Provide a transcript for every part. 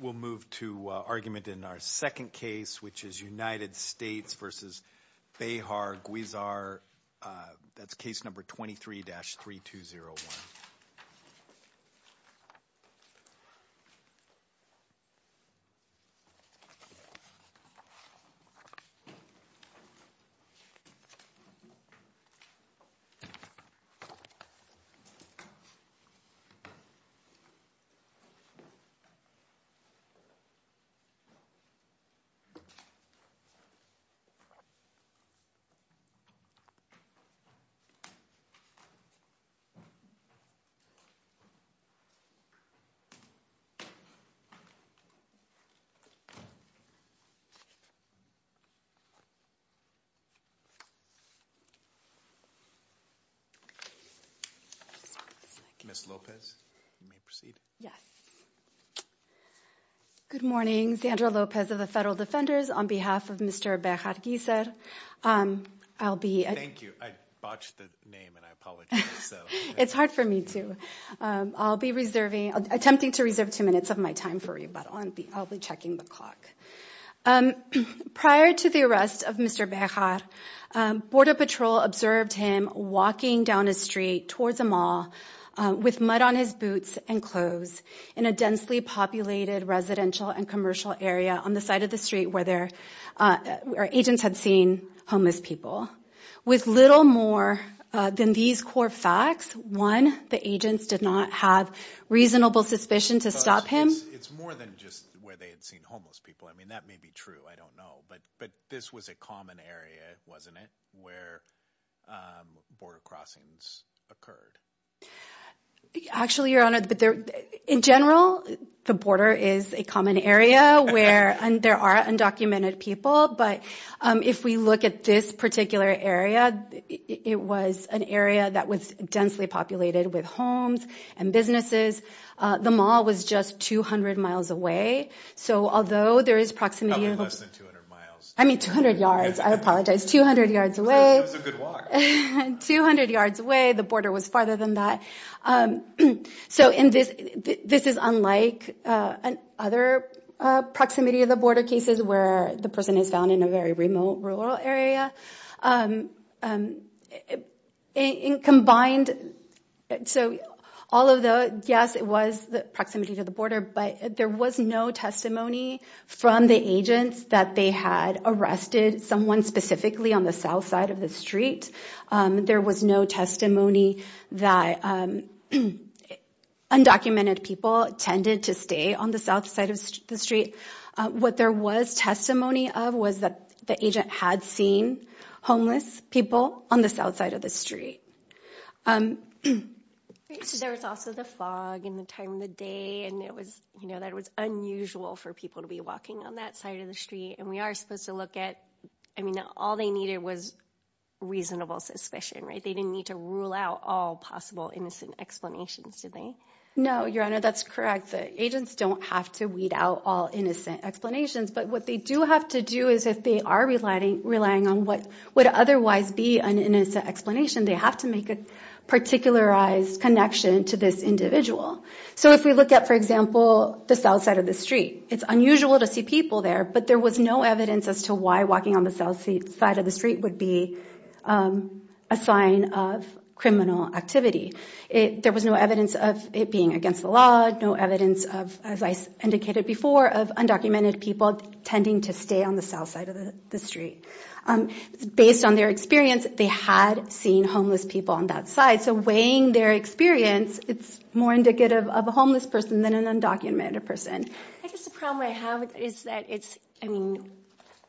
We'll move to argument in our second case, which is United States v. Bejar-Guizar. That's case number 23-3201. Ms. Lopez? Good morning, Sandra Lopez of the Federal Defenders. On behalf of Mr. Bejar-Guizar, I'll be... Thank you. I botched the name and I apologize. It's hard for me too. I'll be attempting to reserve two minutes of my time for you, but I'll be checking the clock. Prior to the arrest of Mr. Bejar, Border Patrol observed him walking down a street towards a mall with mud on his boots and clothes in a densely populated residential and commercial area on the side of the street where agents had seen homeless people. With little more than these core facts, one, the agents did not have reasonable suspicion to stop him. It's more than just where they had seen homeless people. I mean, that may be true. I don't know. But this was a common area, wasn't it, where border crossings occurred? Actually, Your Honor, in general, the border is a common area where there are undocumented people. But if we look at this particular area, it was an area that was densely populated with homes and businesses. The mall was just 200 miles away. So although there is proximity... Probably less than 200 miles. I mean, 200 yards. I apologize. 200 yards away. So it was a good walk. 200 yards away. The border was farther than that. So this is unlike other proximity to the border cases where the person is found in a very remote rural area. In combined... So all of the... Yes, it was the proximity to the border, but there was no testimony from the agents that they had arrested someone specifically on the south side of the street. There was no testimony that undocumented people tended to stay on the south side of the street. What there was testimony of was that the agent had seen homeless people on the south side of the street. So there was also the fog and the time of the day, and it was unusual for people to be walking on that side of the street. And we are supposed to look at... I mean, all they needed was reasonable suspicion, right? They didn't need to rule out all possible innocent explanations, did they? No, Your Honor, that's correct. The agents don't have to weed out all innocent explanations. But what they do have to do is if they are relying on what would otherwise be an innocent explanation, they have to make a particularized connection to this individual. So if we look at, for example, the south side of the street, it's unusual to see people there. But there was no evidence as to why walking on the south side of the street would be a sign of criminal activity. There was no evidence of it being against the law, no evidence of, as I indicated before, of undocumented people tending to stay on the south side of the street. Based on their experience, they had seen homeless people on that side. So weighing their experience, it's more indicative of a homeless person than an undocumented person. I guess the problem I have is that it's, I mean,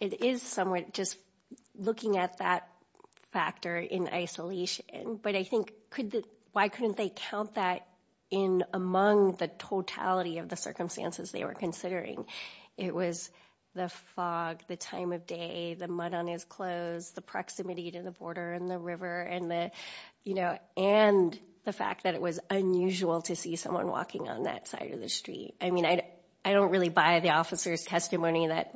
it is somewhat just looking at that factor in isolation. But I think why couldn't they count that in among the totality of the circumstances they were considering? It was the fog, the time of day, the mud on his clothes, the proximity to the border and the river, and the fact that it was unusual to see someone walking on that side of the street. I mean, I don't really buy the officer's testimony that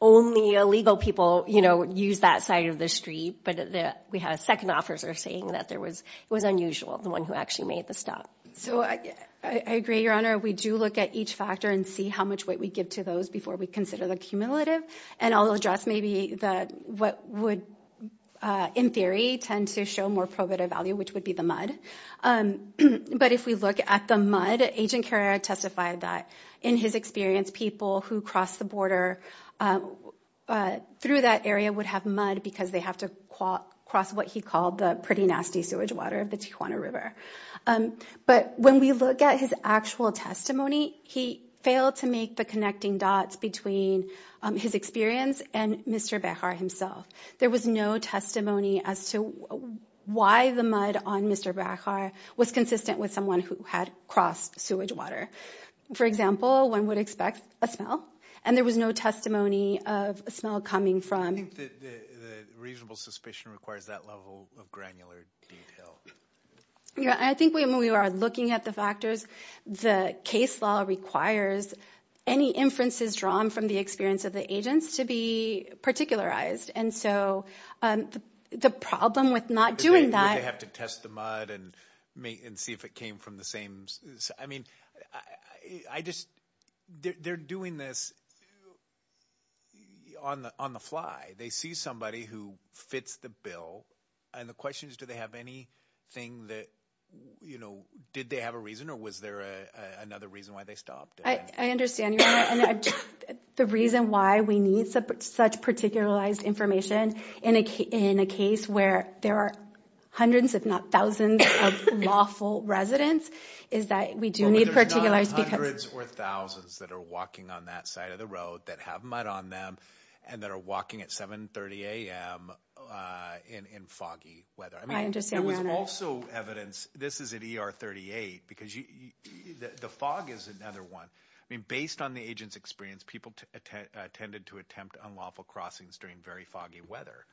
only illegal people use that side of the street. But we had a second officer saying that it was unusual, the one who actually made the stop. So I agree, Your Honor. We do look at each factor and see how much weight we give to those before we consider the cumulative. And I'll address maybe what would, in theory, tend to show more probative value, which would be the mud. But if we look at the mud, Agent Carrera testified that, in his experience, people who cross the border through that area would have mud because they have to cross what he called the pretty nasty sewage water of the Tijuana River. But when we look at his actual testimony, he failed to make the connecting dots between his experience and Mr. Behar himself. There was no testimony as to why the mud on Mr. Behar was consistent with someone who had crossed sewage water. For example, one would expect a smell, and there was no testimony of a smell coming from… I think the reasonable suspicion requires that level of granular detail. Yeah, I think when we are looking at the factors, the case law requires any inferences drawn from the experience of the agents to be particularized. And so the problem with not doing that… Would they have to test the mud and see if it came from the same… I mean, they're doing this on the fly. They see somebody who fits the bill, and the question is, do they have anything that… Did they have a reason, or was there another reason why they stopped? I understand, Your Honor. The reason why we need such particularized information in a case where there are hundreds, if not thousands, of lawful residents is that we do need particularized… But there's not hundreds or thousands that are walking on that side of the road that have mud on them and that are walking at 7.30 a.m. in foggy weather. I understand, Your Honor. There's also evidence. This is at E.R. 38, because the fog is another one. I mean, based on the agent's experience, people tended to attempt unlawful crossings during very foggy weather,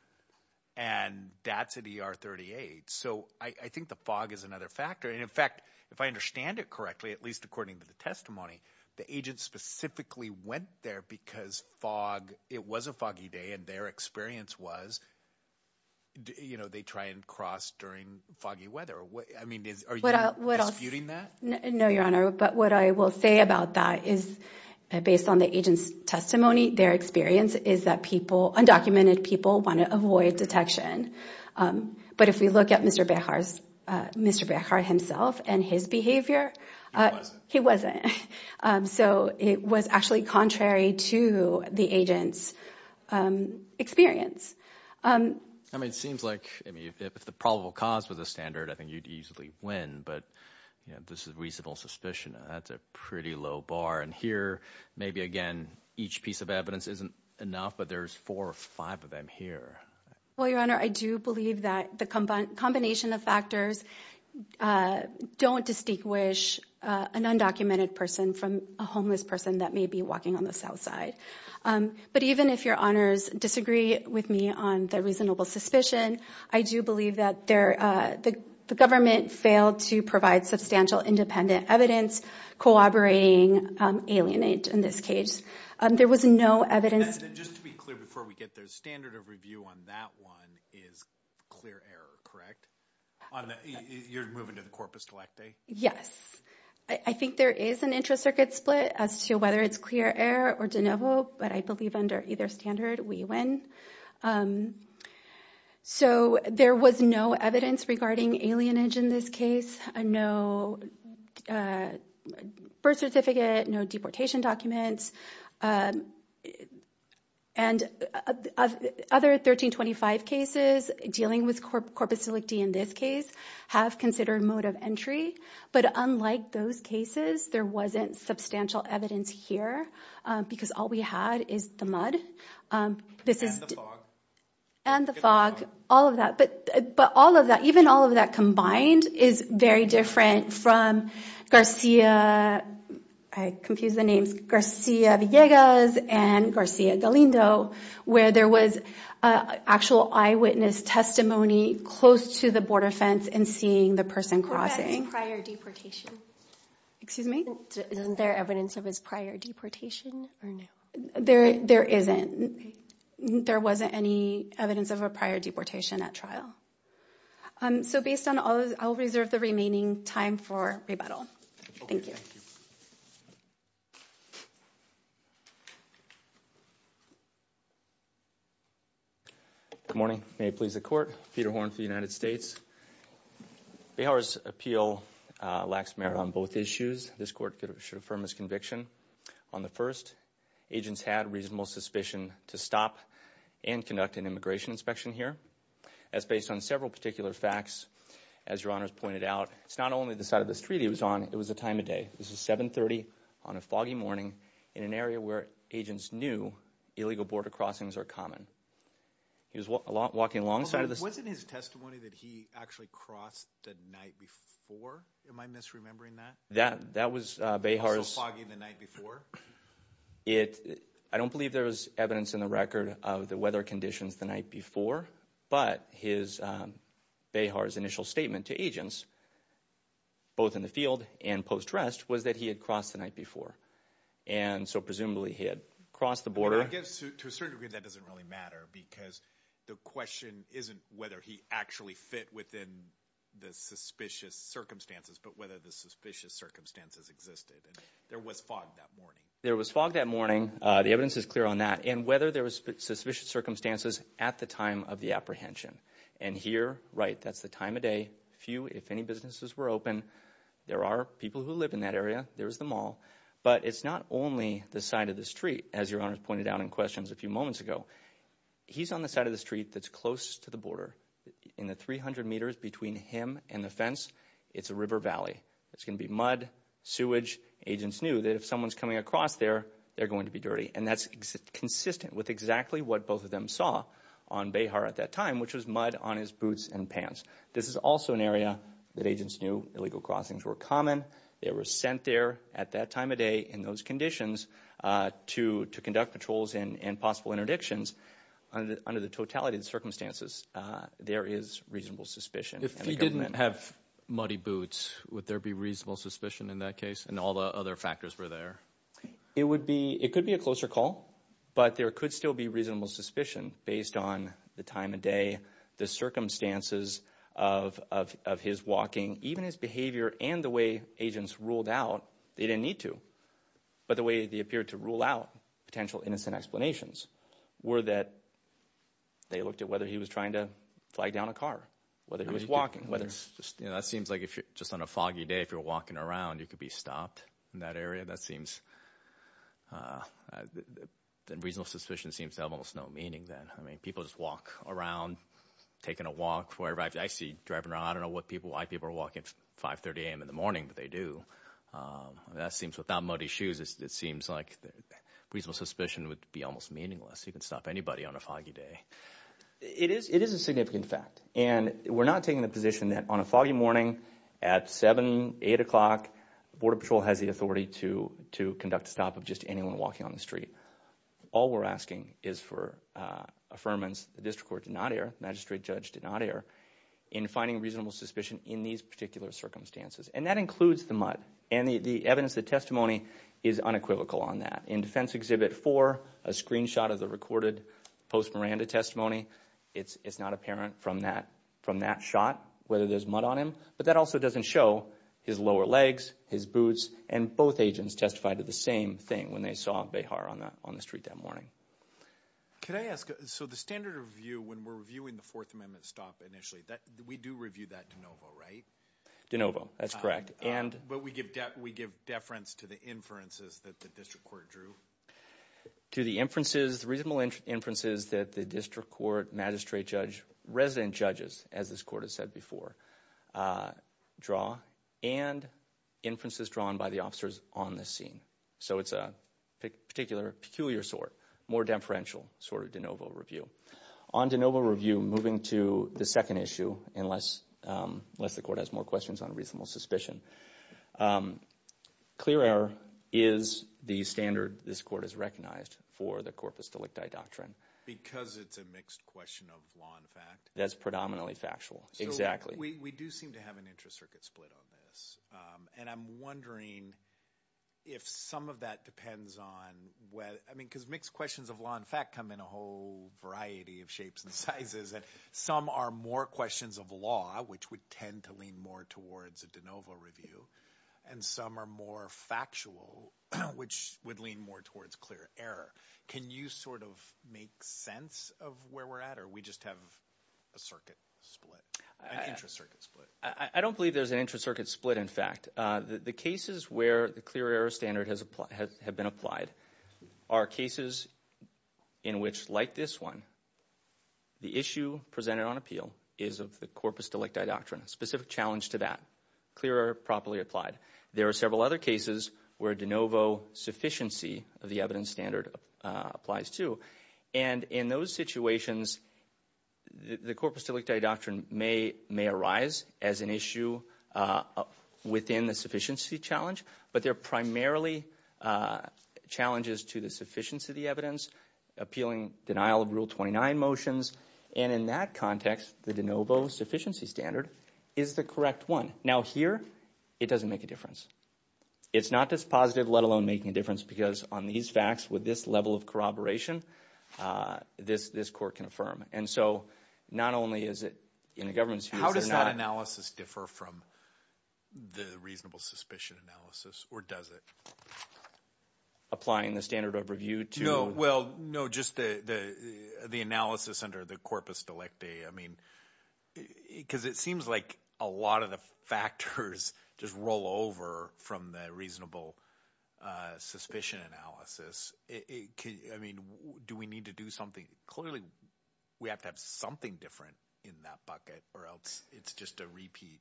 and that's at E.R. 38. So I think the fog is another factor. And, in fact, if I understand it correctly, at least according to the testimony, the agent specifically went there because fog… It was a foggy day, and their experience was they try and cross during foggy weather. I mean, are you disputing that? No, Your Honor. But what I will say about that is, based on the agent's testimony, their experience is that people, undocumented people, want to avoid detection. But if we look at Mr. Behar's…Mr. Behar himself and his behavior… He wasn't. He wasn't. So it was actually contrary to the agent's experience. I mean, it seems like, I mean, if the probable cause was a standard, I think you'd easily win. But, you know, this is reasonable suspicion. That's a pretty low bar. And here, maybe, again, each piece of evidence isn't enough, but there's four or five of them here. Well, Your Honor, I do believe that the combination of factors don't distinguish an undocumented person from a homeless person that may be walking on the south side. But even if Your Honors disagree with me on the reasonable suspicion, I do believe that the government failed to provide substantial independent evidence corroborating alienate in this case. There was no evidence… Just to be clear before we get there, the standard of review on that one is clear error, correct? You're moving to the corpus collecti? Yes. I think there is an intra-circuit split as to whether it's clear error or de novo, but I believe under either standard, we win. So there was no evidence regarding alienage in this case. No birth certificate, no deportation documents, and other 1325 cases dealing with corpus collecti in this case have considered mode of entry. But unlike those cases, there wasn't substantial evidence here because all we had is the mud. And the fog. And the fog, all of that. But all of that, even all of that combined is very different from Garcia, I confuse the names, Garcia Villegas and Garcia Galindo, where there was actual eyewitness testimony close to the border fence and seeing the person crossing. What about his prior deportation? Excuse me? Isn't there evidence of his prior deportation or no? There isn't. There wasn't any evidence of a prior deportation at trial. So based on all those, I'll reserve the remaining time for rebuttal. Thank you. Good morning. May it please the court. Peter Horn for the United States. Bayhauer's appeal lacks merit on both issues. This court should affirm his conviction. On the first, agents had reasonable suspicion to stop and conduct an immigration inspection here. As based on several particular facts, as your honors pointed out, it's not only the side of the street he was on, it was the time of day. This is 7.30 on a foggy morning in an area where agents knew illegal border crossings are common. He was walking alongside of this. Wasn't his testimony that he actually crossed the night before? Am I misremembering that? That was Bayhauer's. So foggy the night before? I don't believe there was evidence in the record of the weather conditions the night before, but Bayhauer's initial statement to agents, both in the field and post-arrest, was that he had crossed the night before. And so presumably he had crossed the border. I guess to a certain degree that doesn't really matter because the question isn't whether he actually fit within the suspicious circumstances, but whether the suspicious circumstances existed. There was fog that morning. There was fog that morning. The evidence is clear on that. And whether there was suspicious circumstances at the time of the apprehension. And here, right, that's the time of day. Few, if any, businesses were open. There are people who live in that area. There's the mall. But it's not only the side of the street, as your honors pointed out in questions a few moments ago. He's on the side of the street that's closest to the border. In the 300 meters between him and the fence, it's a river valley. It's going to be mud, sewage. Agents knew that if someone's coming across there, they're going to be dirty. And that's consistent with exactly what both of them saw on Bayhauer at that time, which was mud on his boots and pants. This is also an area that agents knew illegal crossings were common. They were sent there at that time of day in those conditions to conduct patrols and possible interdictions under the totality of the circumstances. There is reasonable suspicion. If he didn't have muddy boots, would there be reasonable suspicion in that case and all the other factors were there? It could be a closer call, but there could still be reasonable suspicion based on the time of day, the circumstances of his walking, even his behavior and the way agents ruled out. They didn't need to. But the way they appeared to rule out potential innocent explanations were that they looked at whether he was trying to flag down a car, whether he was walking, whether it's just, you know, that seems like if you're just on a foggy day, if you're walking around, you could be stopped in that area. That seems reasonable. Suspicion seems to have almost no meaning then. I mean, people just walk around taking a walk for everybody. I see driving around. I don't know what people, why people are walking 530 a.m. in the morning, but they do. That seems without muddy shoes, it seems like reasonable suspicion would be almost meaningless. You could stop anybody on a foggy day. It is a significant fact, and we're not taking the position that on a foggy morning at 7, 8 o'clock, Border Patrol has the authority to conduct a stop of just anyone walking on the street. All we're asking is for affirmance. The district court did not err. The magistrate judge did not err in finding reasonable suspicion in these particular circumstances, and that includes the mud, and the evidence, the testimony is unequivocal on that. In Defense Exhibit 4, a screenshot of the recorded post-Miranda testimony, it's not apparent from that shot whether there's mud on him, but that also doesn't show his lower legs, his boots, and both agents testified to the same thing when they saw Behar on the street that morning. Could I ask, so the standard of view when we're reviewing the Fourth Amendment stop initially, we do review that de novo, right? De novo, that's correct. But we give deference to the inferences that the district court drew? To the inferences, the reasonable inferences that the district court, magistrate judge, resident judges, as this court has said before, draw, and inferences drawn by the officers on the scene. So it's a particular, peculiar sort, more deferential sort of de novo review. On de novo review, moving to the second issue, unless the court has more questions on reasonable suspicion, clear error is the standard this court has recognized for the corpus delicti doctrine. Because it's a mixed question of law and fact? That's predominantly factual, exactly. We do seem to have an intra-circuit split on this, and I'm wondering if some of that depends on, because mixed questions of law and fact come in a whole variety of shapes and sizes, and some are more questions of law, which would tend to lean more towards a de novo review, and some are more factual, which would lean more towards clear error. Can you sort of make sense of where we're at, or we just have a circuit split, an intra-circuit split? I don't believe there's an intra-circuit split, in fact. The cases where the clear error standard has been applied are cases in which, like this one, the issue presented on appeal is of the corpus delicti doctrine, a specific challenge to that. Clear error properly applied. There are several other cases where de novo sufficiency of the evidence standard applies too, and in those situations, the corpus delicti doctrine may arise as an issue within the sufficiency challenge, but they're primarily challenges to the sufficiency of the evidence, appealing denial of Rule 29 motions, and in that context, the de novo sufficiency standard is the correct one. Now here, it doesn't make a difference. It's not dispositive, let alone making a difference, because on these facts, with this level of corroboration, this court can affirm, and so not only is it in the government's views. How does that analysis differ from the reasonable suspicion analysis, or does it? Applying the standard of review to? No, well, no, just the analysis under the corpus delicti, I mean, because it seems like a lot of the factors just roll over from the reasonable suspicion analysis. I mean, do we need to do something? Clearly, we have to have something different in that bucket, or else it's just a repeat.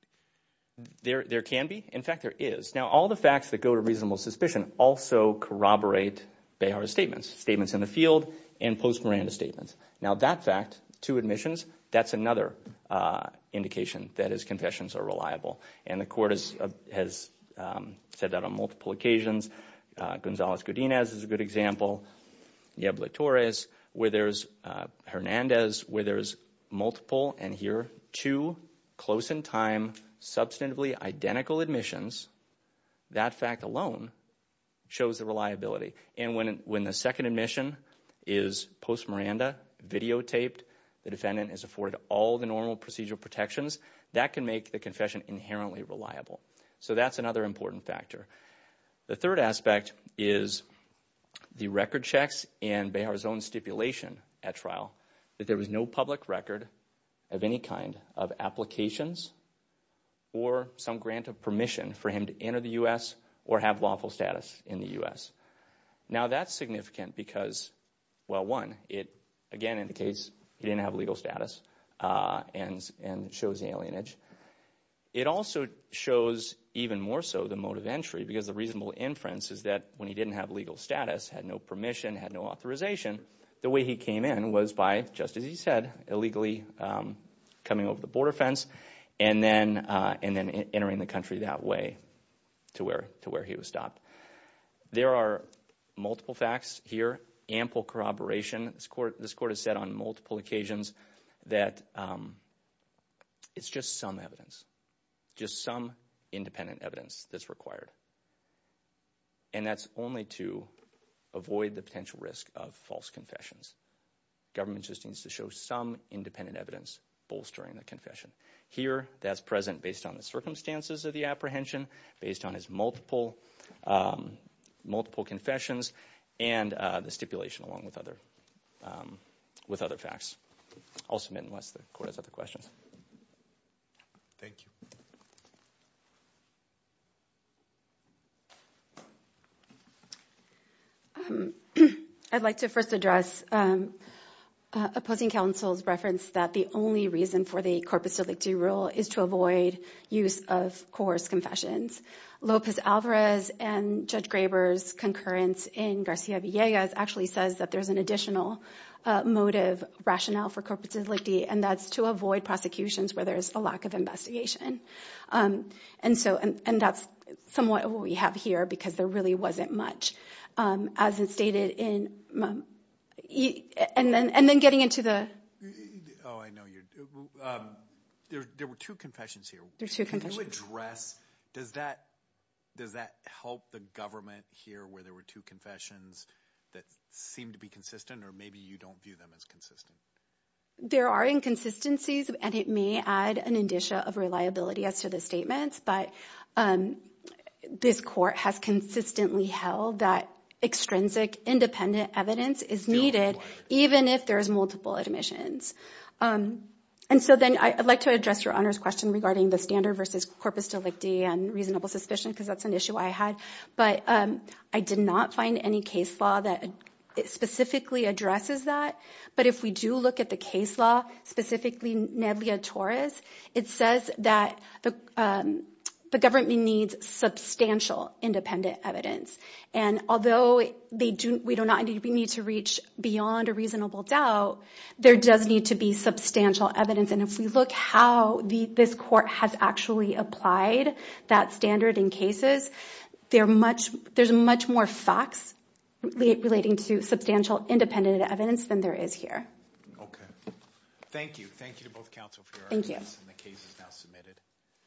There can be. In fact, there is. Now, all the facts that go to reasonable suspicion also corroborate Behar's statements, statements in the field and post-Miranda statements. Now, that fact, two admissions, that's another indication that his confessions are reliable, and the court has said that on multiple occasions. Gonzalez-Gudinez is a good example. Yebley-Torres. Where there's Hernandez, where there's multiple, and here, two close-in-time, substantively identical admissions, that fact alone shows the reliability. And when the second admission is post-Miranda, videotaped, the defendant is afforded all the normal procedural protections, that can make the confession inherently reliable. So that's another important factor. The third aspect is the record checks and Behar's own stipulation at trial, that there was no public record of any kind of applications or some grant of permission for him to enter the U.S. or have lawful status in the U.S. Now, that's significant because, well, one, it, again, indicates he didn't have legal status, and it shows the alienage. It also shows, even more so, the mode of entry, because the reasonable inference is that when he didn't have legal status, had no permission, had no authorization, the way he came in was by, just as he said, illegally coming over the border fence and then entering the country that way to where he was stopped. There are multiple facts here, ample corroboration. This Court has said on multiple occasions that it's just some evidence, just some independent evidence that's required, and that's only to avoid the potential risk of false confessions. Government just needs to show some independent evidence bolstering the confession. Here, that's present based on the circumstances of the apprehension, based on his multiple confessions, and the stipulation along with other facts. I'll submit unless the Court has other questions. Thank you. I'd like to first address opposing counsel's reference that the only reason for the corpus delicti rule is to avoid use of coarse confessions. Lopez Alvarez and Judge Graber's concurrence in Garcia Villegas actually says that there's an additional motive rationale for corpus delicti, and that's to avoid prosecutions where there's a lack of investigation. And that's somewhat what we have here because there really wasn't much, as is stated in—and then getting into the— Oh, I know you—there were two confessions here. There were two confessions. Can you address—does that help the government here, where there were two confessions that seemed to be consistent, or maybe you don't view them as consistent? There are inconsistencies, and it may add an indicia of reliability as to the statements, but this Court has consistently held that extrinsic independent evidence is needed, even if there's multiple admissions. And so then I'd like to address your Honor's question regarding the standard versus corpus delicti and reasonable suspicion, because that's an issue I had, but I did not find any case law that specifically addresses that. But if we do look at the case law, specifically Nedleya Torres, it says that the government needs substantial independent evidence. And although we do not need to reach beyond a reasonable doubt, there does need to be substantial evidence. And if we look how this Court has actually applied that standard in cases, there's much more facts relating to substantial independent evidence than there is here. Okay. Thank you. Thank you to both counsel for your evidence. Thank you. And the case is now submitted.